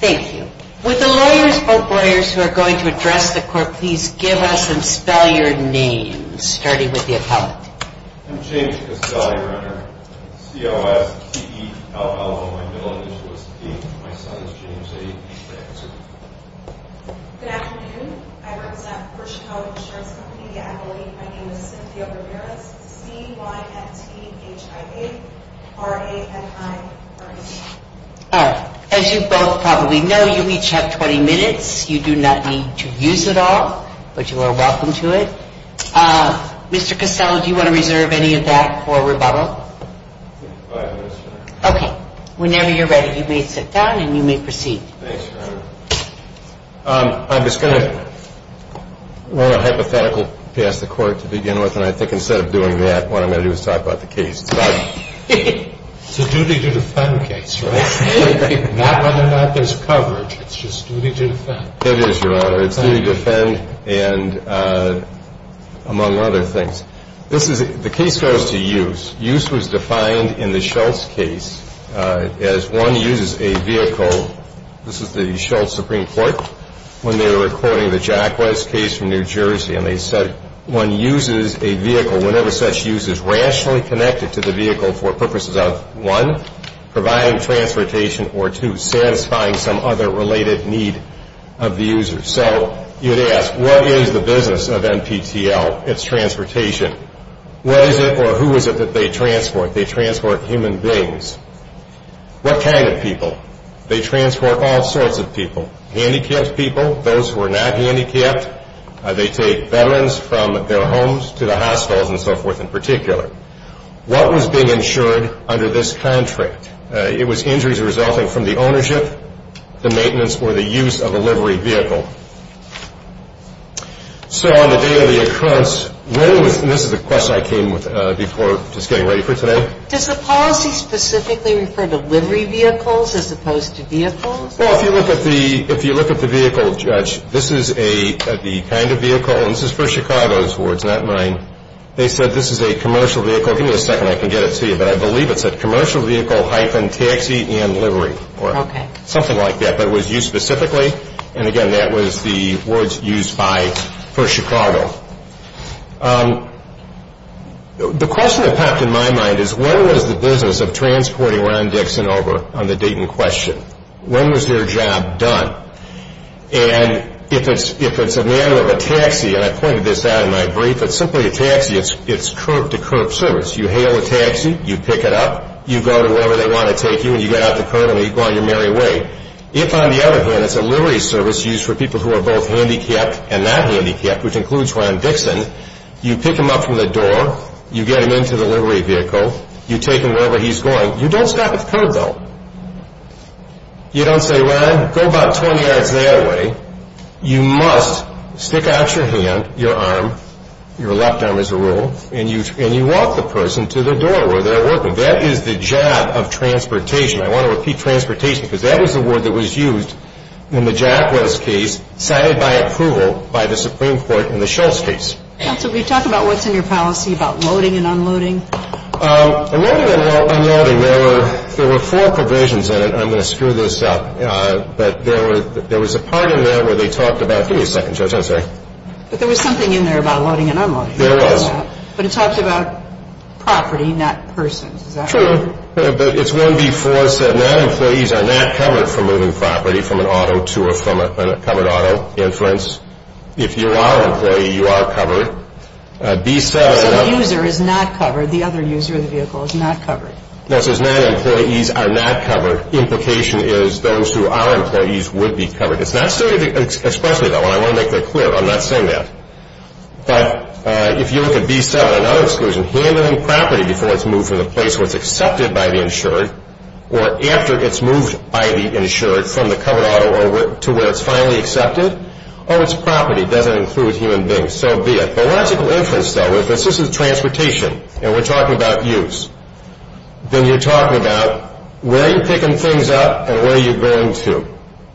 Thank you. Would the lawyers, both lawyers, who are going to address the court please give us and spell your names, starting with the appellant. I'm James Castelli-Renner, C-O-S-T-E-L-L-O-N, middle initial is T. My son is James A. Good afternoon. I represent First Chicago Insurance Company. My name is Cynthia Ramirez, C-Y-N-T-H-I-A-R-A-N-I-R-N. As you both probably know, you each have 20 minutes. You do not need to use it all, but you are welcome to it. Mr. Castelli, do you want to reserve any of that for rebuttal? Yes, ma'am. Okay. Whenever you're ready, you may sit down and you may proceed. Thanks, Your Honor. I'm just going to run a hypothetical past the court to begin with, and I think instead of doing that, what I'm going to do is talk about the case. It's a duty to defend case, right? Not whether or not there's coverage. It's just duty to defend. It is, Your Honor. It's duty to defend and among other things. The case goes to use. Use was defined in the Shultz case as one uses a vehicle. This is the Shultz Supreme Court when they were recording the Jacquez case from New Jersey, and they said one uses a vehicle whenever such use is rationally connected to the vehicle for purposes of, one, providing transportation, or two, satisfying some other related need of the user. So you'd ask, what is the business of NPTL? It's transportation. What is it or who is it that they transport? They transport human beings. What kind of people? They transport all sorts of people. Handicapped people, those who are not handicapped. They take veterans from their homes to the hospitals and so forth in particular. What was being insured under this contract? It was injuries resulting from the ownership, the maintenance, or the use of a livery vehicle. So on the day of the occurrence, what was, and this is a question I came with before just getting ready for today. Does the policy specifically refer to livery vehicles as opposed to vehicles? Well, if you look at the vehicle, Judge, this is a, the kind of vehicle, and this is for Chicago's wards, not mine. They said this is a commercial vehicle. Give me a second, I can get it to you, but I believe it's a commercial vehicle, hyphen, taxi, and livery or something like that, but it was used specifically, and again, that was the words used by, for Chicago. The question that popped in my mind is when was the business of transporting Ron Dixon over on the Dayton question? When was their job done? And if it's a matter of a taxi, and I pointed this out in my brief, it's simply a taxi, it's curb to curb service. You hail a taxi, you pick it up, you go to wherever they want to take you, and you get out the curb and you go on your merry way. If, on the other hand, it's a livery service used for people who are both handicapped and not handicapped, which includes Ron Dixon, you pick him up from the door, you get him into the livery vehicle, you take him wherever he's going, you don't stop at the curb, though. You don't say, Ron, go about 20 yards that way. You must stick out your hand, your arm, your left arm is a rule, and you walk the rest of the way. It's a job of transportation. I want to repeat transportation, because that was the word that was used in the Jacquez case, cited by approval by the Supreme Court in the Shultz case. Counsel, can you talk about what's in your policy about loading and unloading? Loading and unloading, there were four provisions in it. I'm going to screw this up. But there was a part in there where they talked about – give me a second, Judge, I'm sorry. But there was something in there about loading and unloading. There was. But it talked about property, not persons. Is that right? True. But it's 1B4, it said, non-employees are not covered for moving property from an auto to or from a covered auto inference. If you are an employee, you are covered. It said the user is not covered. The other user of the vehicle is not covered. No, it says non-employees are not covered. Implication is those who are employees would be covered. It's not stated, especially though, and I want to make that clear, I'm not saying that. But if you look at B7, another exclusion, handling property before it's moved from the place where it's accepted by the insured or after it's moved by the insured from the covered auto to where it's finally accepted or its property doesn't include human beings, so be it. The logical inference, though, is this is transportation and we're talking about use. Then you're talking about where you're picking things up and where you're going to.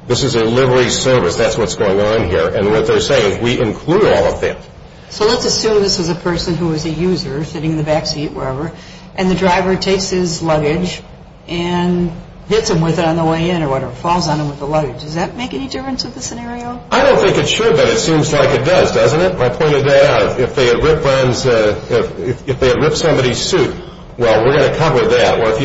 This is a livery service. That's what's going on here. And what they're saying is we include all of that. So let's assume this is a person who is a user sitting in the back seat, wherever, and the driver takes his luggage and hits him with it on the way in or whatever, falls on him with the luggage. Does that make any difference with the scenario? I don't think it should, but it seems like it does, doesn't it? My point of that, if they had ripped somebody's suit, well, we're going to cover that. Or if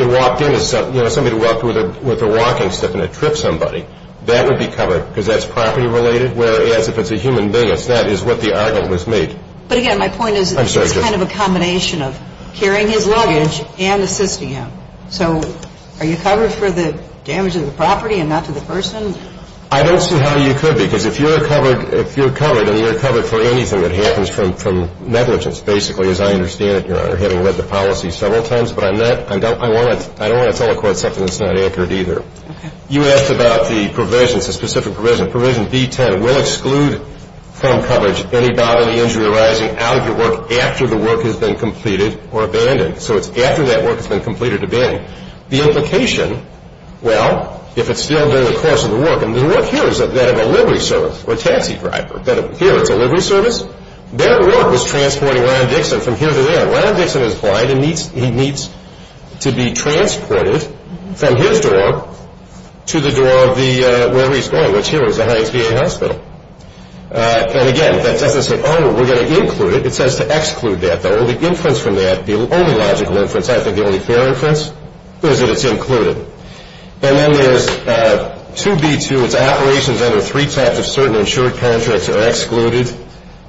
somebody walked in with a walking stick and it tripped somebody, that would be covered because that's property related, whereas if it's a human being, that is what the argument was made. But again, my point is it's kind of a combination of carrying his luggage and assisting him. So are you covered for the damage to the property and not to the person? I don't see how you could because if you're covered and you're covered for anything that happens from negligence, basically, as I understand it, Your Honor, having read the policy several times, but I don't want to tell the court something that's not accurate either. You asked about the provisions, the specific provisions. Provision B-10 will exclude from coverage any bodily injury arising out of your work after the work has been completed or abandoned. So it's after that work has been completed or abandoned. The implication, well, if it's still during the course of the work, and the work here is that of a livery service or a taxi driver, here it's a livery service, their work was transporting Ron Dixon from here to there. Ron Dixon is blind and he needs to be transported from his door to the door of the, wherever he's going, which here is the highest VA hospital. And again, that doesn't say, oh, we're going to include it. It says to exclude that. The only inference from that, the only logical inference, I think the only fair inference, is that it's included. And then there's 2B-2. It's operations under 3 types of certain insured contracts are excluded,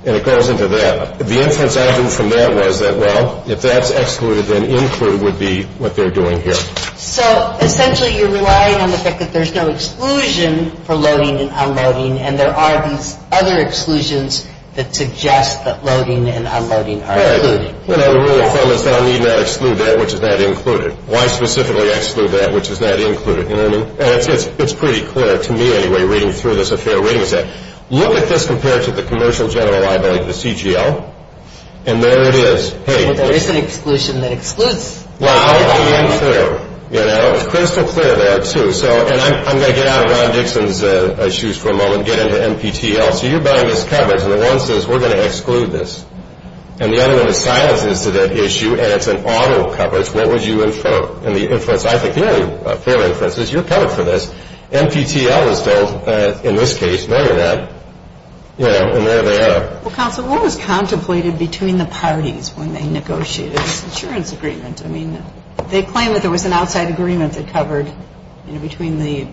and it goes into that. The inference I drew from that was that, well, if that's excluded, then include would be what they're doing here. So essentially you're relying on the fact that there's no exclusion for loading and unloading, and there are these other exclusions that suggest that loading and unloading are included. Right. And the rule of thumb is that I need not exclude that which is not included. Why specifically exclude that which is not included, you know what I mean? And it's pretty clear to me, anyway, reading through this, a fair reading is that. Look at this compared to the Commercial General Liability, the CGL, and there it is. There is an exclusion that excludes. Wow. It's crystal clear there, too. And I'm going to get out of Ron Dixon's shoes for a moment and get into NPTEL. So you're buying this coverage, and the one says we're going to exclude this. And the other one is silencing us to that issue, and it's an auto coverage. What would you infer? I think the only fair inference is you're covered for this. NPTEL is still, in this case, no you're not. You know, and there they are. Well, counsel, what was contemplated between the parties when they negotiated this insurance agreement? I mean, they claimed that there was an outside agreement that covered, you know, between the...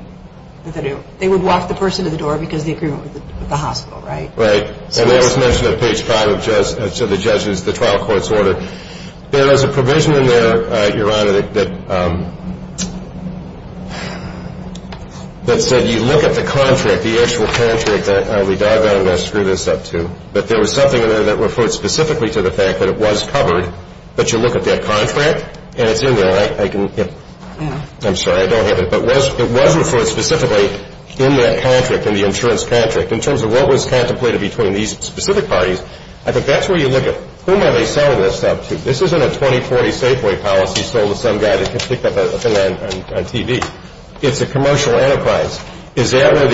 They would walk the person to the door because of the agreement with the hospital, right? Right. And that was mentioned at page 5 of the judge's, the trial court's order. There was a provision in there, Your Honor, that said you look at the contract, the actual contract, and I'll be doggone if I screw this up, too, but there was something in there that referred specifically to the fact that it was covered. But you look at that contract, and it's in there. I can... I'm sorry, I don't have it. But it was referred specifically in that contract, in the insurance contract. In terms of what was contemplated between these specific parties, I think that's where you look at, whom are they selling this stuff to? This isn't a 2040 Safeway policy sold to some guy that can pick up a thing on TV. It's a commercial enterprise. Is that where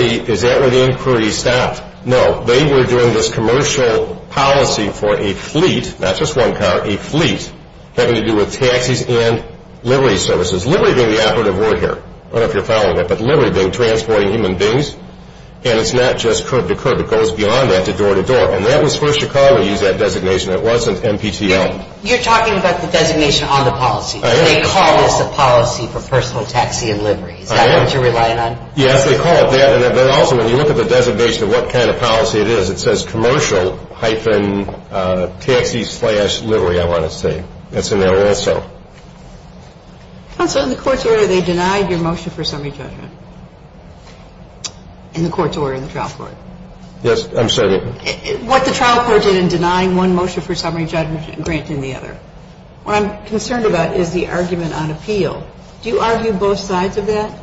the inquiry stopped? No. They were doing this commercial policy for a fleet, not just one car, a fleet, having to do with taxis and livery services. Livery being the operative word here. I don't know if you're following it, but livery being transporting human beings. And it's not just curb to curb. It goes beyond that to door to door. And that was for Chicago to use that designation. It wasn't NPTL. You're talking about the designation on the policy. They call this the policy for personal taxi and livery. Is that what you're relying on? Yes, they call it that. And also, when you look at the designation of what kind of policy it is, it says commercial hyphen taxi slash livery, I want to say. That's in there also. Counselor, in the court's order, they denied your motion for summary judgment. In the court's order, in the trial court. Yes. I'm sorry. What the trial court did in denying one motion for summary judgment and granting the other. What I'm concerned about is the argument on appeal. Do you argue both sides of that?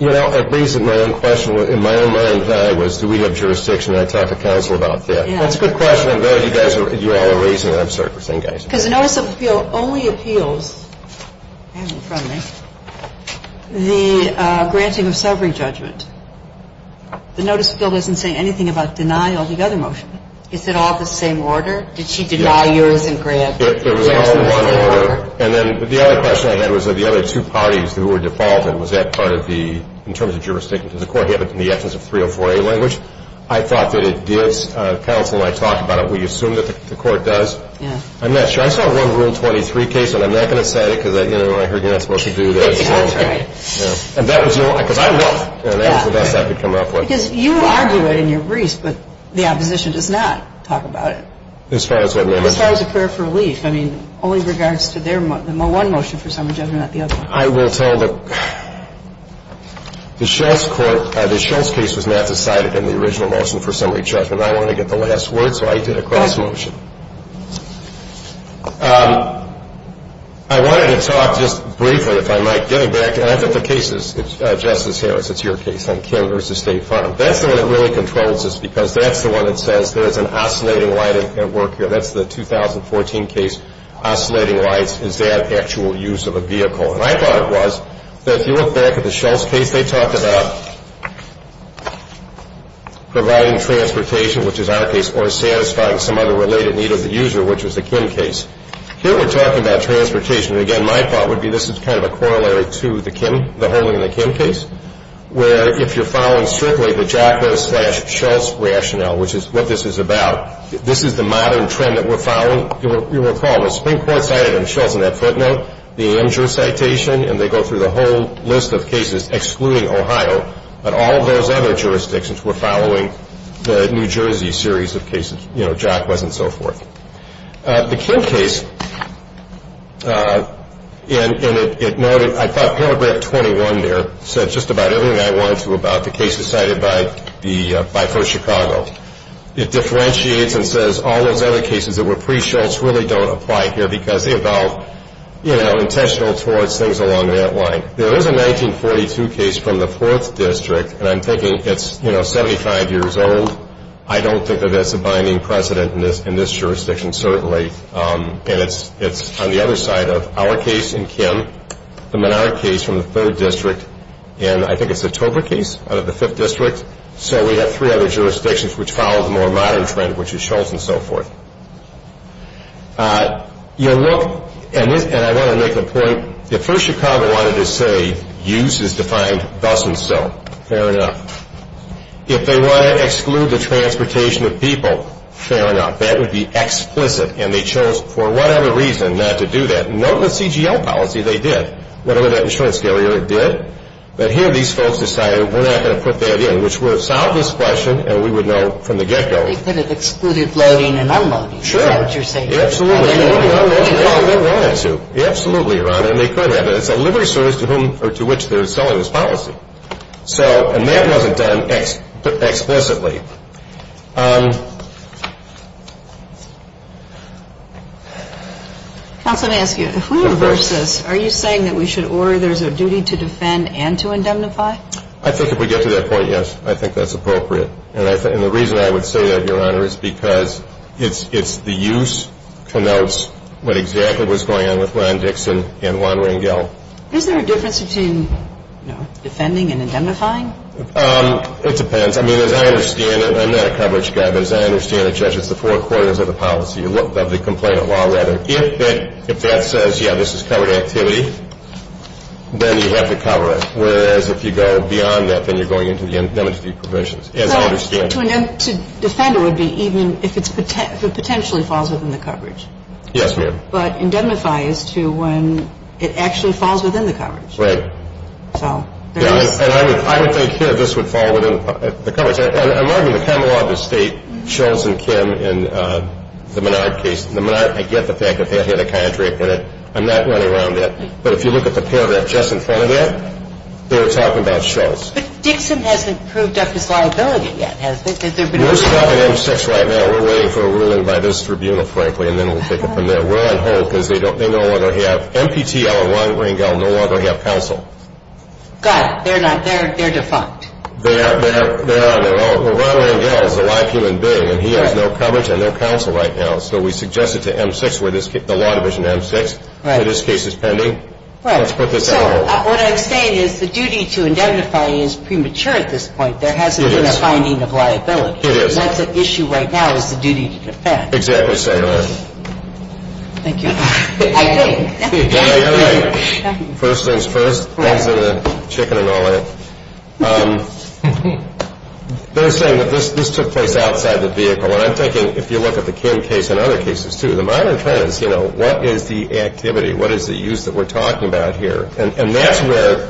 You know, at least in my own question, in my own mind, was do we have jurisdiction, and I talked to counsel about that. That's a good question. I'm glad you all are raising it. I'm sorry for saying that. Because the notice of appeal only appeals, hand it in front of me, the granting of summary judgment. The notice of appeal doesn't say anything about denial of the other motion. Is it all the same order? Did she deny yours and grant? It was all one order. And then the other question I had was the other two parties who were defaulted, was that part of the, in terms of jurisdiction, because the court had it in the absence of 304A language. I thought that it did. Counsel and I talked about it. We assume that the court does. I'm not sure. I saw one Rule 23 case, and I'm not going to cite it because, you know, I heard you're not supposed to do that. Yeah, that's right. Yeah. And that was no, because I won. That was the best I could come up with. Because you argue it in your briefs, but the opposition does not talk about it. As far as what, ma'am? As far as a prayer for relief. I mean, only regards to their one motion for summary judgment, not the other one. I will tell the, the Shultz court, the Shultz case was not decided in the original motion for summary judgment. I wanted to get the last word, so I did a cross motion. I wanted to talk just briefly, if I might, getting back. And I think the case is, Justice Harris, it's your case on Kim v. State Farm. That's the one that really controls this because that's the one that says there is an oscillating light at work here. That's the 2014 case, oscillating lights. Is that actual use of a vehicle? And I thought it was. But if you look back at the Shultz case, they talk about providing transportation, which is our case, or satisfying some other related need of the user, which was the Kim case. Here we're talking about transportation. Again, my thought would be this is kind of a corollary to the Kim, the holding of the Kim case, where if you're following strictly the JACA slash Shultz rationale, which is what this is about, this is the modern trend that we're following. You'll recall the Supreme Court cited in Shultz in that footnote the Amjur citation, and they go through the whole list of cases excluding Ohio, but all of those other jurisdictions were following the New Jersey series of cases, you know, JACAs and so forth. The Kim case, and it noted, I thought paragraph 21 there said just about everything I wanted to about the cases cited by First Chicago. It differentiates and says all those other cases that were pre-Shultz really don't apply here because they evolved, you know, intentional towards things along that line. There is a 1942 case from the 4th District, and I'm thinking it's, you know, 75 years old. I don't think of it as a binding precedent in this jurisdiction, certainly. And it's on the other side of our case in Kim, the Menard case from the 3rd District, and I think it's the Tober case out of the 5th District. So we have three other jurisdictions which follow the more modern trend, which is Shultz and so forth. You look, and I want to make a point. If First Chicago wanted to say use is defined thus and so, fair enough. If they want to exclude the transportation of people, fair enough. That would be explicit, and they chose for whatever reason not to do that. Note the CGL policy they did, whatever that insurance carrier did. But here these folks decided we're not going to put that in, which would have solved this question, and we would know from the get-go. Well, they could have excluded loading and unloading. Sure. Is that what you're saying? Absolutely. They could have, and they could have. It's a liberty service to which they're selling this policy. And that wasn't done explicitly. Counsel, let me ask you. If we reverse this, are you saying that we should order there's a duty to defend and to indemnify? I think if we get to that point, yes, I think that's appropriate. And the reason I would say that, Your Honor, is because it's the use connotes what exactly was going on with Ron Dixon and Juan Rangel. Is there a difference between, you know, defending and indemnifying? It depends. I mean, as I understand it, and I'm not a coverage guy, but as I understand it, Judge, it's the four corners of the policy, of the complainant law, rather. If that says, yeah, this is covered activity, then you have to cover it. Whereas if you go beyond that, then you're going into the indemnity provisions. As I understand it. To defend it would be even if it potentially falls within the coverage. Yes, ma'am. But indemnify is to when it actually falls within the coverage. Right. And I would think here this would fall within the coverage. And I'm arguing the common law of this State, Schultz and Kim in the Menard case. The Menard, I get the fact that they had a kind of drape in it. I'm not running around that. But if you look at the paragraph just in front of that, they were talking about Schultz. But Dixon hasn't proved up his liability yet, has he? We're stuck in M6 right now. We're waiting for a ruling by this tribunal, frankly, and then we'll take it from there. We're on hold because they no longer have MPTL or Ron Rangel no longer have counsel. Got it. They're not. They're defunct. They're on their own. Well, Ron Rangel is a live human being, and he has no coverage on their counsel right now. So we suggest it to M6, the Law Division M6. Right. That this case is pending. Right. Let's put this on hold. What I'm saying is the duty to indemnify is premature at this point. There hasn't been a finding of liability. It is. What's at issue right now is the duty to defend. Exactly so, Your Honor. Thank you. I think. No, you're right. First things first. Thanks for the chicken and all that. They're saying that this took place outside the vehicle. And I'm thinking if you look at the Kim case and other cases, too, the minor offense, you know, what is the activity? What is the use that we're talking about here? And that's where,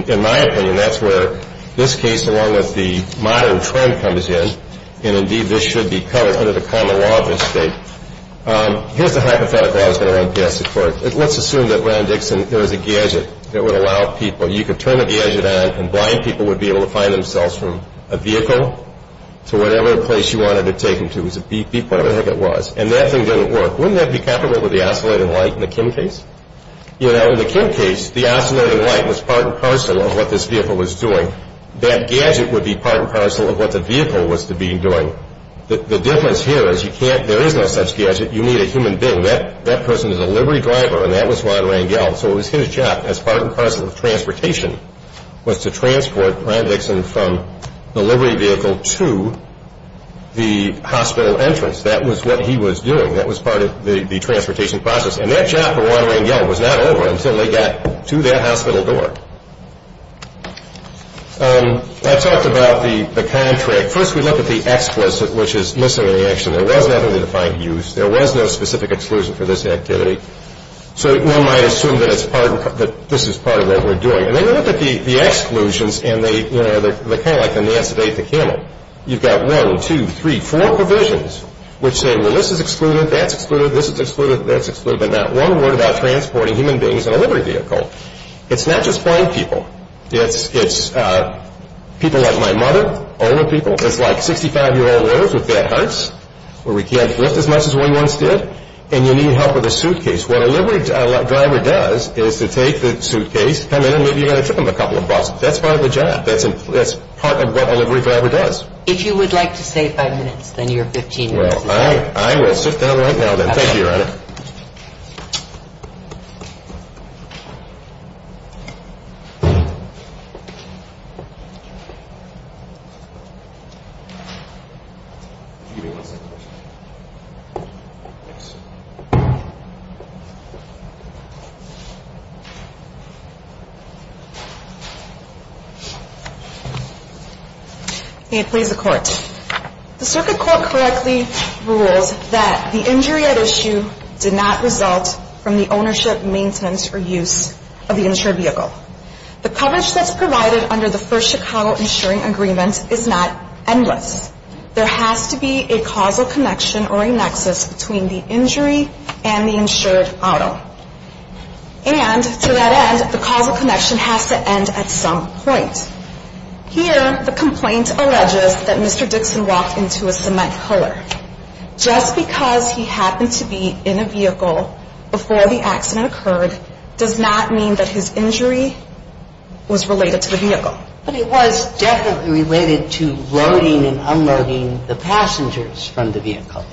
in my opinion, that's where this case, along with the modern trend, comes in. And, indeed, this should be covered under the common law of this state. Here's the hypothetical I was going to run past at first. Let's assume that, Ron Dixon, there was a gadget that would allow people. You could turn the gadget on, and blind people would be able to find themselves from a vehicle to whatever place you wanted to take them to. It was a beep, beep, whatever the heck it was. And that thing didn't work. Wouldn't that be comparable with the oscillating light in the Kim case? You know, in the Kim case, the oscillating light was part and parcel of what this vehicle was doing. That gadget would be part and parcel of what the vehicle was to be doing. The difference here is you can't. There is no such gadget. You need a human being. That person is a livery driver, and that was Ron Rangel. So it was his job, as part and parcel of transportation, was to transport Ron Dixon from the livery vehicle to the hospital entrance. That was what he was doing. That was part of the transportation process. And that job for Ron Rangel was not over until they got to that hospital door. I talked about the contract. First, we look at the explicit, which is missing in the action. There was not any defined use. There was no specific exclusion for this activity. So one might assume that this is part of what we're doing. And then you look at the exclusions, and they're kind of like the Nancy Day at the Kimmel. You've got one, two, three, four provisions which say, Well, this is excluded, that's excluded, this is excluded, that's excluded, but not one word about transporting human beings in a livery vehicle. It's not just blind people. It's people like my mother, older people. It's like 65-year-old women with bad hearts where we can't lift as much as we once did, and you need help with a suitcase. What a livery driver does is to take the suitcase, come in, and maybe you're going to trip them a couple of bucks. That's part of the job. That's part of what a livery driver does. If you would like to stay five minutes, then you're 15 minutes. Well, I will sit down right now, then. Thank you, Your Honor. Thank you. May it please the Court. The circuit court correctly rules that the injury at issue did not result from the ownership, maintenance, or use of the insured vehicle. The coverage that's provided under the first Chicago insuring agreement is not endless. There has to be a causal connection or a nexus between the injury and the insured auto. And to that end, the causal connection has to end at some point. Here, the complaint alleges that Mr. Dixon walked into a cement puller. Just because he happened to be in a vehicle before the accident occurred does not mean that his injury was related to the vehicle. But it was definitely related to loading and unloading the passengers from the vehicle.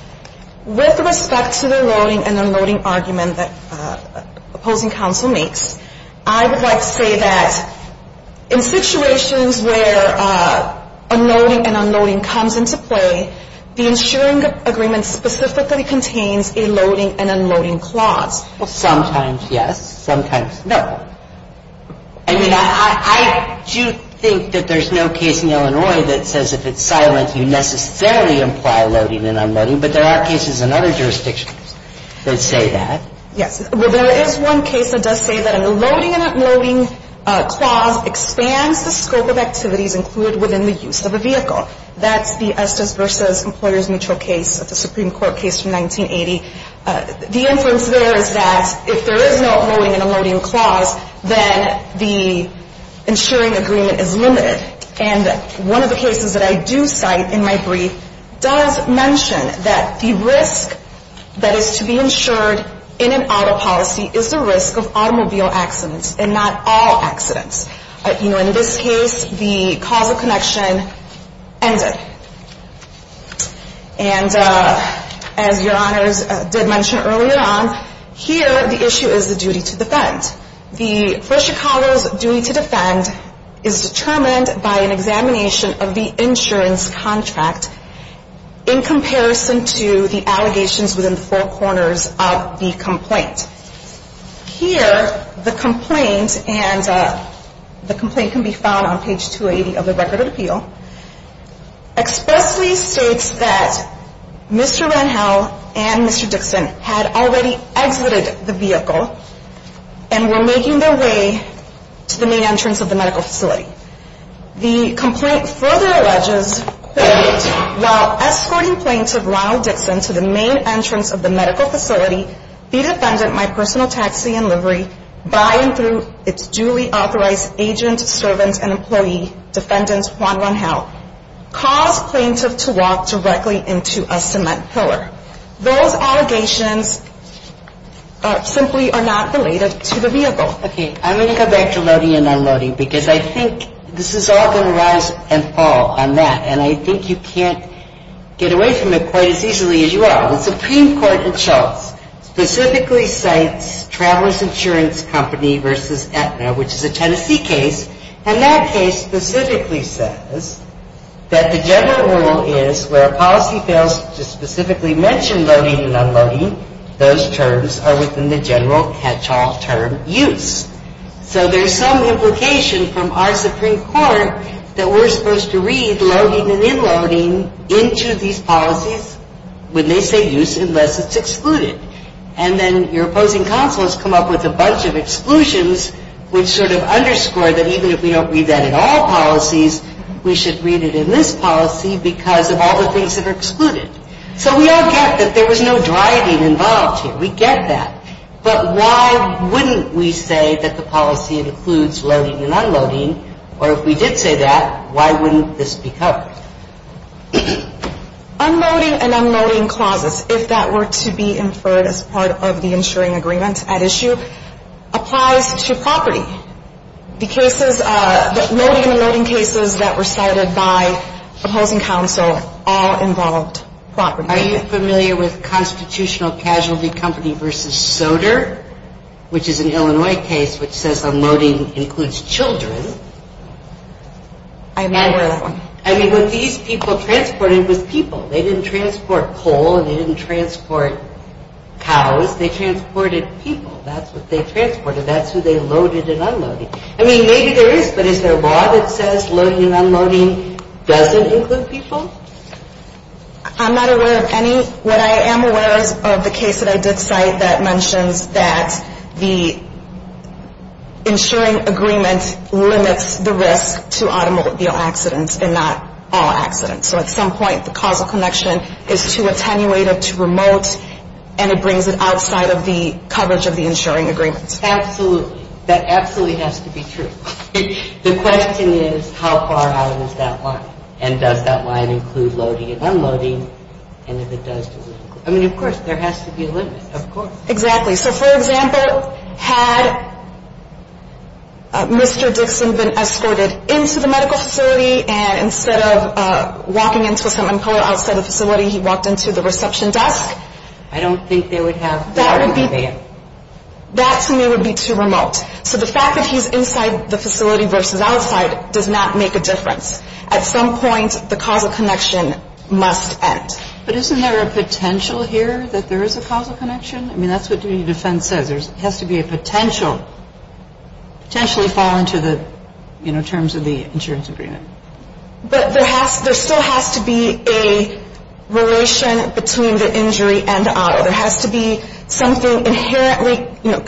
With respect to the loading and unloading argument that opposing counsel makes, I would like to say that in situations where unloading and unloading comes into play, the insuring agreement specifically contains a loading and unloading clause. Well, sometimes, yes. Sometimes, no. I mean, I do think that there's no case in Illinois that says if it's silent, you necessarily imply loading and unloading. But there are cases in other jurisdictions that say that. Yes. Well, there is one case that does say that an unloading and unloading clause expands the scope of activities included within the use of a vehicle. That's the Estes v. Employers Mutual case of the Supreme Court case from 1980. The inference there is that if there is no unloading and unloading clause, then the insuring agreement is limited. And one of the cases that I do cite in my brief does mention that the risk that is to be insured in an auto policy is the risk of automobile accidents and not all accidents. You know, in this case, the causal connection ended. And as Your Honors did mention earlier on, here the issue is the duty to defend. The First Chicago's duty to defend is determined by an examination of the insurance contract in comparison to the allegations within the four corners of the complaint. Here, the complaint can be found on page 280 of the Record of Appeal, expressly states that Mr. Ranhell and Mr. Dixon had already exited the vehicle and were making their way to the main entrance of the medical facility. The complaint further alleges that while escorting plaintiff Ronald Dixon to the main entrance of the medical facility, the defendant, my personal taxi and livery, by and through its duly authorized agent, servant, and employee, defendant Juan Ranhell, caused plaintiff to walk directly into a cement pillar. Those allegations simply are not related to the vehicle. Okay, I'm going to go back to loading and unloading because I think this is all going to rise and fall on that. And I think you can't get away from it quite as easily as you are. The Supreme Court in Charles specifically cites Traveler's Insurance Company versus Aetna, which is a Tennessee case, and that case specifically says that the general rule is where a policy fails to specifically mention loading and unloading, those terms are within the general catch-all term use. So there's some implication from our Supreme Court that we're supposed to read loading and unloading into these policies when they say use unless it's excluded. And then your opposing counsel has come up with a bunch of exclusions which sort of underscore that even if we don't read that in all policies, we should read it in this policy because of all the things that are excluded. So we all get that there was no driving involved here. We get that. But why wouldn't we say that the policy includes loading and unloading? Or if we did say that, why wouldn't this be covered? Unloading and unloading clauses, if that were to be inferred as part of the insuring agreement at issue, applies to property. The loading and unloading cases that were cited by opposing counsel all involved property. Are you familiar with Constitutional Casualty Company v. Soder, which is an Illinois case which says unloading includes children? I am not aware of that one. I mean, what these people transported was people. They didn't transport coal and they didn't transport cows. They transported people. That's what they transported. That's who they loaded and unloaded. I mean, maybe there is, but is there a law that says loading and unloading doesn't include people? I'm not aware of any. What I am aware of is the case that I did cite that mentions that the insuring agreement limits the risk to automobile accidents and not all accidents. So at some point the causal connection is too attenuated, too remote, and it brings it outside of the coverage of the insuring agreement. Absolutely. That absolutely has to be true. The question is how far out is that line, and does that line include loading and unloading, and if it does, does it include people? I mean, of course, there has to be a limit. Of course. Exactly. So, for example, had Mr. Dixon been escorted into the medical facility, and instead of walking into some color outside the facility, he walked into the reception desk? I don't think they would have that. That to me would be too remote. So the fact that he's inside the facility versus outside does not make a difference. At some point the causal connection must end. But isn't there a potential here that there is a causal connection? I mean, that's what duty of defense says. There has to be a potential, potentially fall into the terms of the insurance agreement. But there still has to be a relation between the injury and the auto. There has to be something inherently, you know,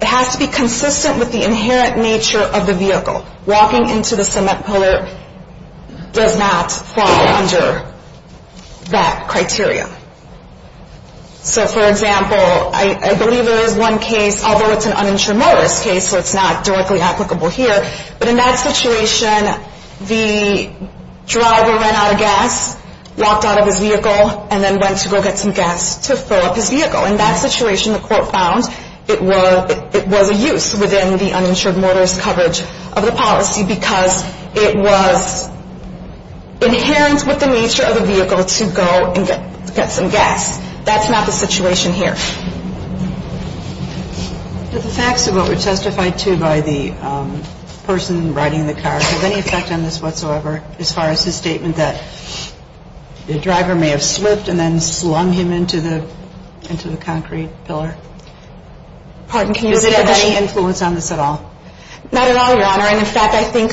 it has to be consistent with the inherent nature of the vehicle. Walking into the cement pillar does not fall under that criteria. So, for example, I believe there is one case, although it's an uninsured motorist case, so it's not directly applicable here, but in that situation the driver ran out of gas, walked out of his vehicle, and then went to go get some gas to fill up his vehicle. In that situation the court found it was a use within the uninsured motorist coverage of the policy because it was inherent with the nature of the vehicle to go and get some gas. That's not the situation here. But the facts of what were testified to by the person riding the car, does any effect on this whatsoever as far as his statement that the driver may have slipped and then slung him into the concrete pillar? Pardon? Does it have any influence on this at all? Not at all, Your Honor. And, in fact, I think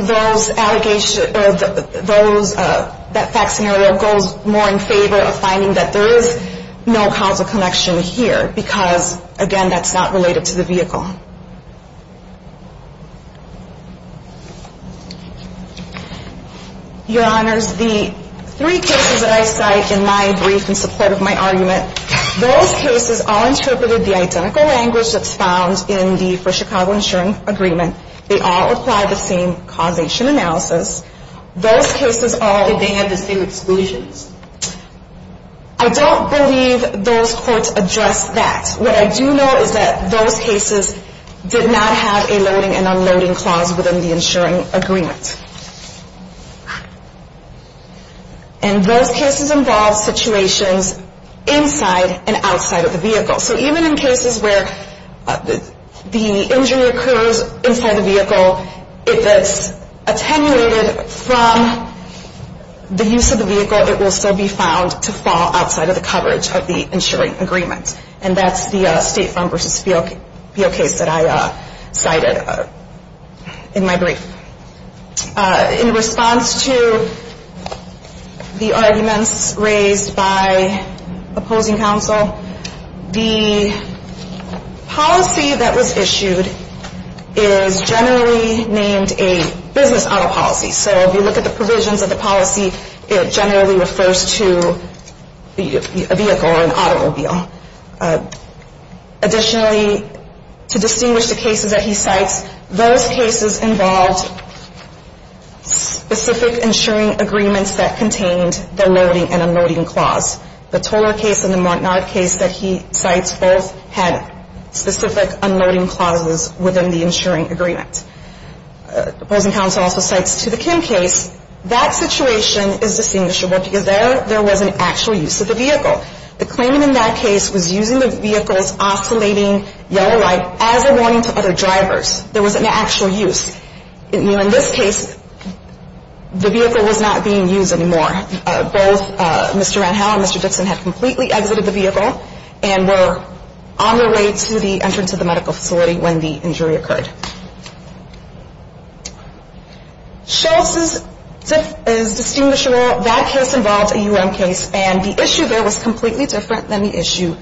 that fact scenario goes more in favor of finding that there is no causal connection here because, again, that's not related to the vehicle. Your Honors, the three cases that I cite in my brief in support of my argument, those cases all interpreted the identical language that's found in the For Chicago Insurance Agreement. They all apply the same causation analysis. Those cases all- Did they have the same exclusions? I don't believe those courts addressed that. What I do know is that those cases did not have a loading and unloading clause within the insuring agreement. And those cases involve situations inside and outside of the vehicle. So even in cases where the injury occurs inside the vehicle, if it's attenuated from the use of the vehicle, it will still be found to fall outside of the coverage of the insuring agreement. And that's the State Farm v. Beale case that I cited in my brief. In response to the arguments raised by opposing counsel, the policy that was issued is generally named a business auto policy. So if you look at the provisions of the policy, it generally refers to a vehicle or an automobile. Additionally, to distinguish the cases that he cites, those cases involved specific insuring agreements that contained the loading and unloading clause. The Tolar case and the Mortnard case that he cites both had specific unloading clauses within the insuring agreement. Opposing counsel also cites to the Kim case, that situation is distinguishable because there was an actual use of the vehicle. The claimant in that case was using the vehicle's oscillating yellow light as a warning to other drivers. There was an actual use. In this case, the vehicle was not being used anymore. Both Mr. Randhau and Mr. Dixon had completely exited the vehicle and were on their way to the entrance of the medical facility when the injury occurred. Shultz's case is distinguishable. That case involves a U.M. case, and the issue there was completely different than the issue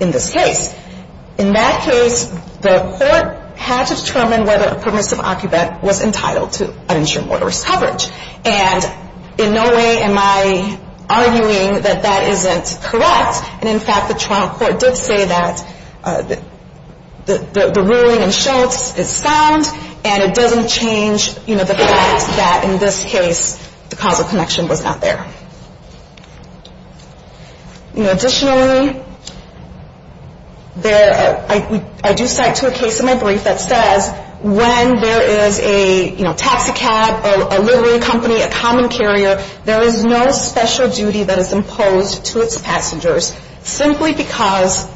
in this case. In that case, the court had to determine whether a permissive occupant was entitled to uninsured motorist coverage. And in no way am I arguing that that isn't correct. And in fact, the trial court did say that the ruling in Shultz is sound and it doesn't change the fact that in this case the causal connection was not there. Additionally, I do cite to a case in my brief that says when there is a taxicab, a livery company, a common carrier, there is no special duty that is imposed to its passengers simply because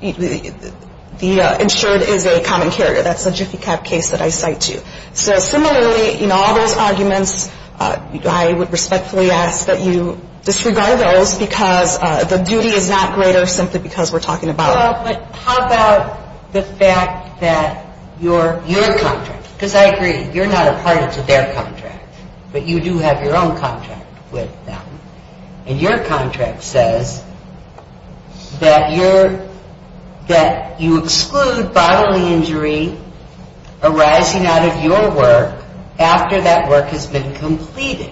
the insured is a common carrier. That's a Jiffy Cab case that I cite to. So similarly, in all those arguments, I would respectfully ask that you disregard those because the duty is not greater simply because we're talking about it. But how about the fact that your contract, because I agree, you're not a part of their contract, but you do have your own contract with them. And your contract says that you exclude bodily injury arising out of your work after that work has been completed.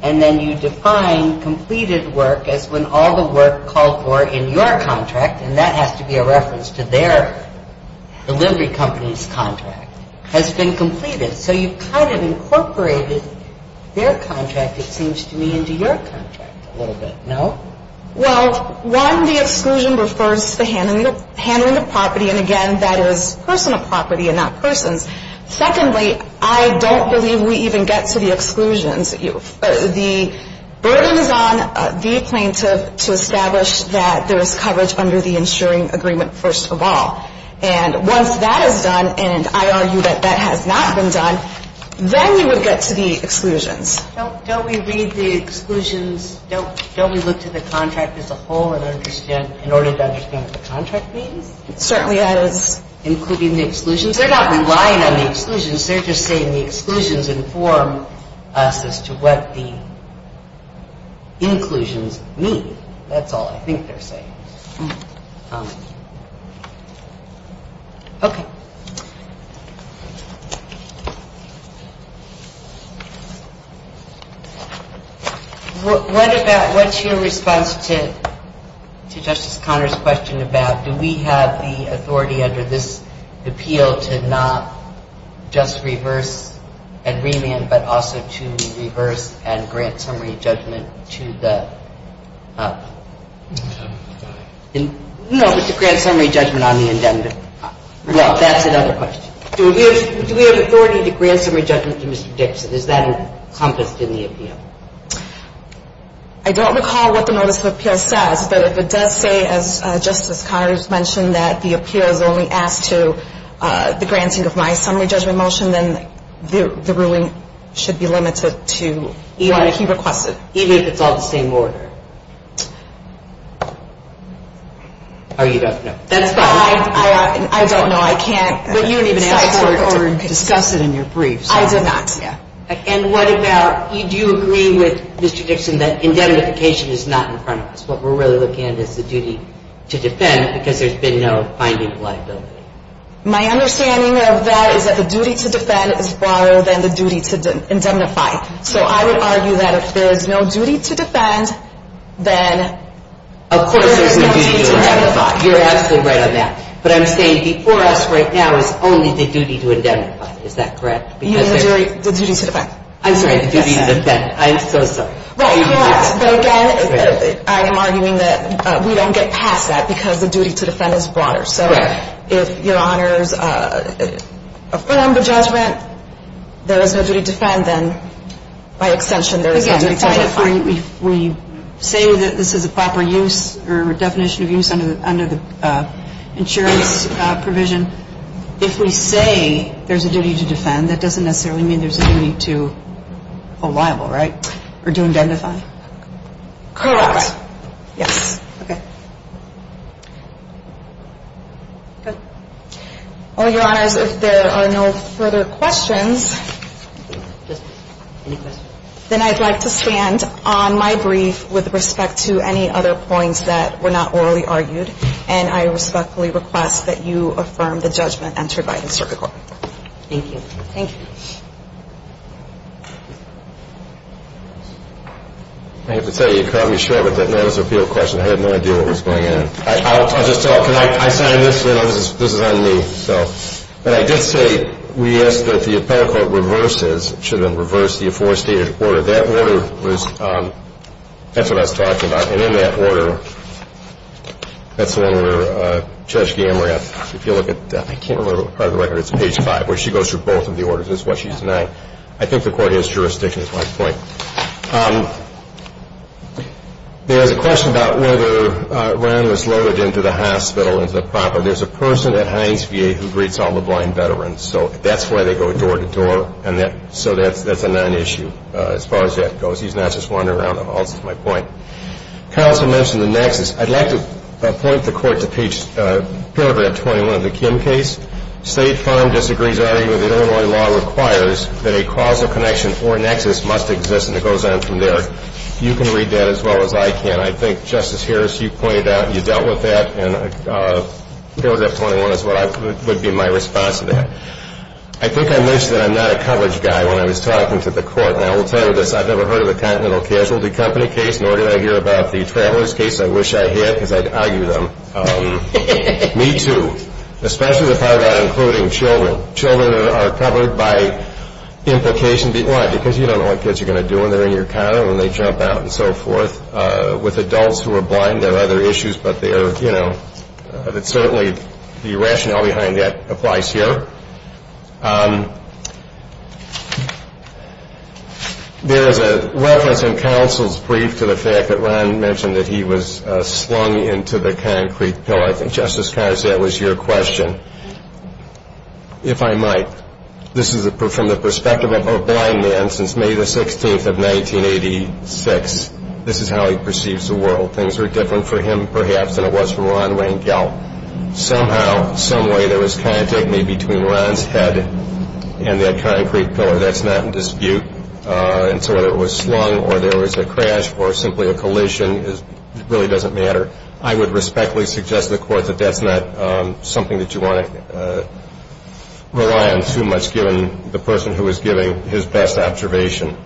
And then you define completed work as when all the work called for in your contract, and that has to be a reference to their delivery company's contract, has been completed. So you've kind of incorporated their contract, it seems to me, into your contract a little bit, no? Well, one, the exclusion refers to handling the property, and again, that is personal property and not persons. Secondly, I don't believe we even get to the exclusions. The burden is on the plaintiff to establish that there is coverage under the insuring agreement, first of all. And once that is done, and I argue that that has not been done, then you would get to the exclusions. Don't we read the exclusions? Don't we look to the contract as a whole in order to understand what the contract means? It certainly is. Including the exclusions? They're not relying on the exclusions. They're just saying the exclusions inform us as to what the inclusions mean. That's all I think they're saying. Okay. What's your response to Justice Conner's question about, do we have the authority under this appeal to not just reverse and remand, but also to reverse and grant summary judgment to the? No, but to grant summary judgment on the indebted. Well, that's another question. Do we have authority to grant summary judgment to Mr. Dixon? Is that encompassed in the appeal? I don't recall what the notice of appeal says, but if it does say, as Justice Conner has mentioned, that the appeal is only asked to the granting of my summary judgment motion, then the ruling should be limited to what he requested. Even if it's all the same order? Or you don't know? I don't know. I can't decide. But you didn't even ask for it or discuss it in your briefs. I did not, yeah. And what about, do you agree with Mr. Dixon that indemnification is not in front of us? What we're really looking at is the duty to defend because there's been no binding liability. My understanding of that is that the duty to defend is broader than the duty to indemnify. So I would argue that if there's no duty to defend, then there's no duty to indemnify. Of course there's no duty to indemnify. You're absolutely right on that. But I'm saying before us right now is only the duty to indemnify. Is that correct? The duty to defend. I'm sorry, the duty to defend. I'm so sorry. Well, you're right. But, again, I am arguing that we don't get past that because the duty to defend is broader. So if Your Honors affirm the judgment there is no duty to defend, then by extension there is no duty to indemnify. Again, if we say that this is a proper use or definition of use under the insurance provision, if we say there's a duty to defend, that doesn't necessarily mean there's a duty to a libel, right? Or to indemnify. Correct. Yes. Okay. Good. Well, Your Honors, if there are no further questions, then I'd like to stand on my brief with respect to any other points that were not orally argued, and I respectfully request that you affirm the judgment entered by the Circuit Court. Thank you. Thank you. I have to tell you, you caught me short of it. That was an appeal question. I had no idea what was going on. I'll just tell it. Can I sign this? This is on me. But I did say we ask that the appellate court reverses, should have been reversed, the aforestated order. That order was, that's what I was talking about. And in that order, that's the one where Judge Gamerat, if you look at, I can't remember what part of the record, it's page 5, where she goes through both of the orders. That's what she's denying. I think the court has jurisdiction, is my point. There's a question about whether Ryan was loaded into the hospital into the proper. There's a person at Heinz VA who greets all the blind veterans, so that's why they go door to door, and so that's a non-issue as far as that goes. He's not just wandering around the halls, is my point. Counsel mentioned the nexus. I'd like to point the court to paragraph 21 of the Kim case. State fund disagrees, arguing that Illinois law requires that a causal connection or nexus must exist, and it goes on from there. You can read that as well as I can. I think, Justice Harris, you pointed out and you dealt with that, and paragraph 21 would be my response to that. I think I mentioned that I'm not a coverage guy when I was talking to the court, and I will tell you this, I've never heard of a Continental Casualty Company case, nor did I hear about the travelers case. I wish I had because I'd argue them. Me too, especially the part about including children. Children are covered by implication. Why? Because you don't know what kids are going to do when they're in your car and they jump out and so forth. With adults who are blind, there are other issues, but certainly the rationale behind that applies here. There is a reference in counsel's brief to the fact that Ron mentioned that he was slung into the concrete pillar. I think, Justice Carr, that was your question, if I might. This is from the perspective of a blind man since May the 16th of 1986. This is how he perceives the world. Things were different for him, perhaps, than it was for Ron Rangel. Somehow, someway, there was contact made between Ron's head and that concrete pillar. That's not in dispute. And so whether it was slung or there was a crash or simply a collision, it really doesn't matter. I would respectfully suggest to the court that that's not something that you want to rely on too much, given the person who was giving his best observation.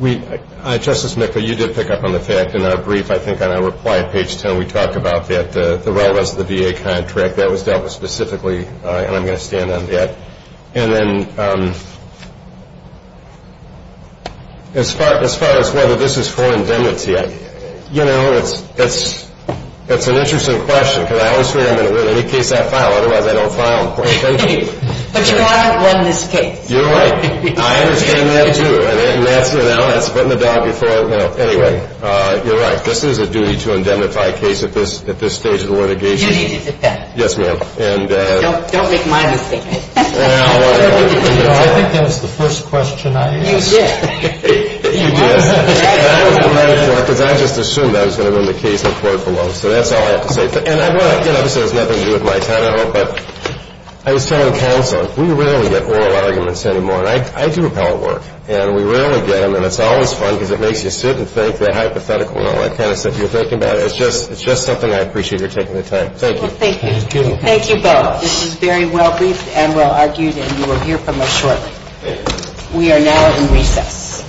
Justice McCoy, you did pick up on the fact in our brief, I think on our reply at page 10, we talked about the relevance of the VA contract. That was dealt with specifically, and I'm going to stand on that. And then as far as whether this is fore-indemnity, you know, it's an interesting question, because I always figure I'm going to win in any case I file, otherwise I don't file. But you haven't won this case. You're right. I understand that, too. And that's putting the dog before the mouse. Anyway, you're right. This is a duty-to-indemnify case at this stage of the litigation. Duty to defend. Yes, ma'am. Don't make my mistake. I think that was the first question I asked. You did. You did. I just assumed I was going to win the case before it belongs, so that's all I have to say. And, you know, this has nothing to do with my time at all, but I was telling counsel, we rarely get oral arguments anymore, and I do appellate work, and we rarely get them, and it's always fun because it makes you sit and think the hypothetical and all that kind of stuff you're thinking about. It's just something I appreciate your taking the time. Thank you. Well, thank you. Thank you both. This was very well briefed and well argued, and you will hear from us shortly. We are now in recess.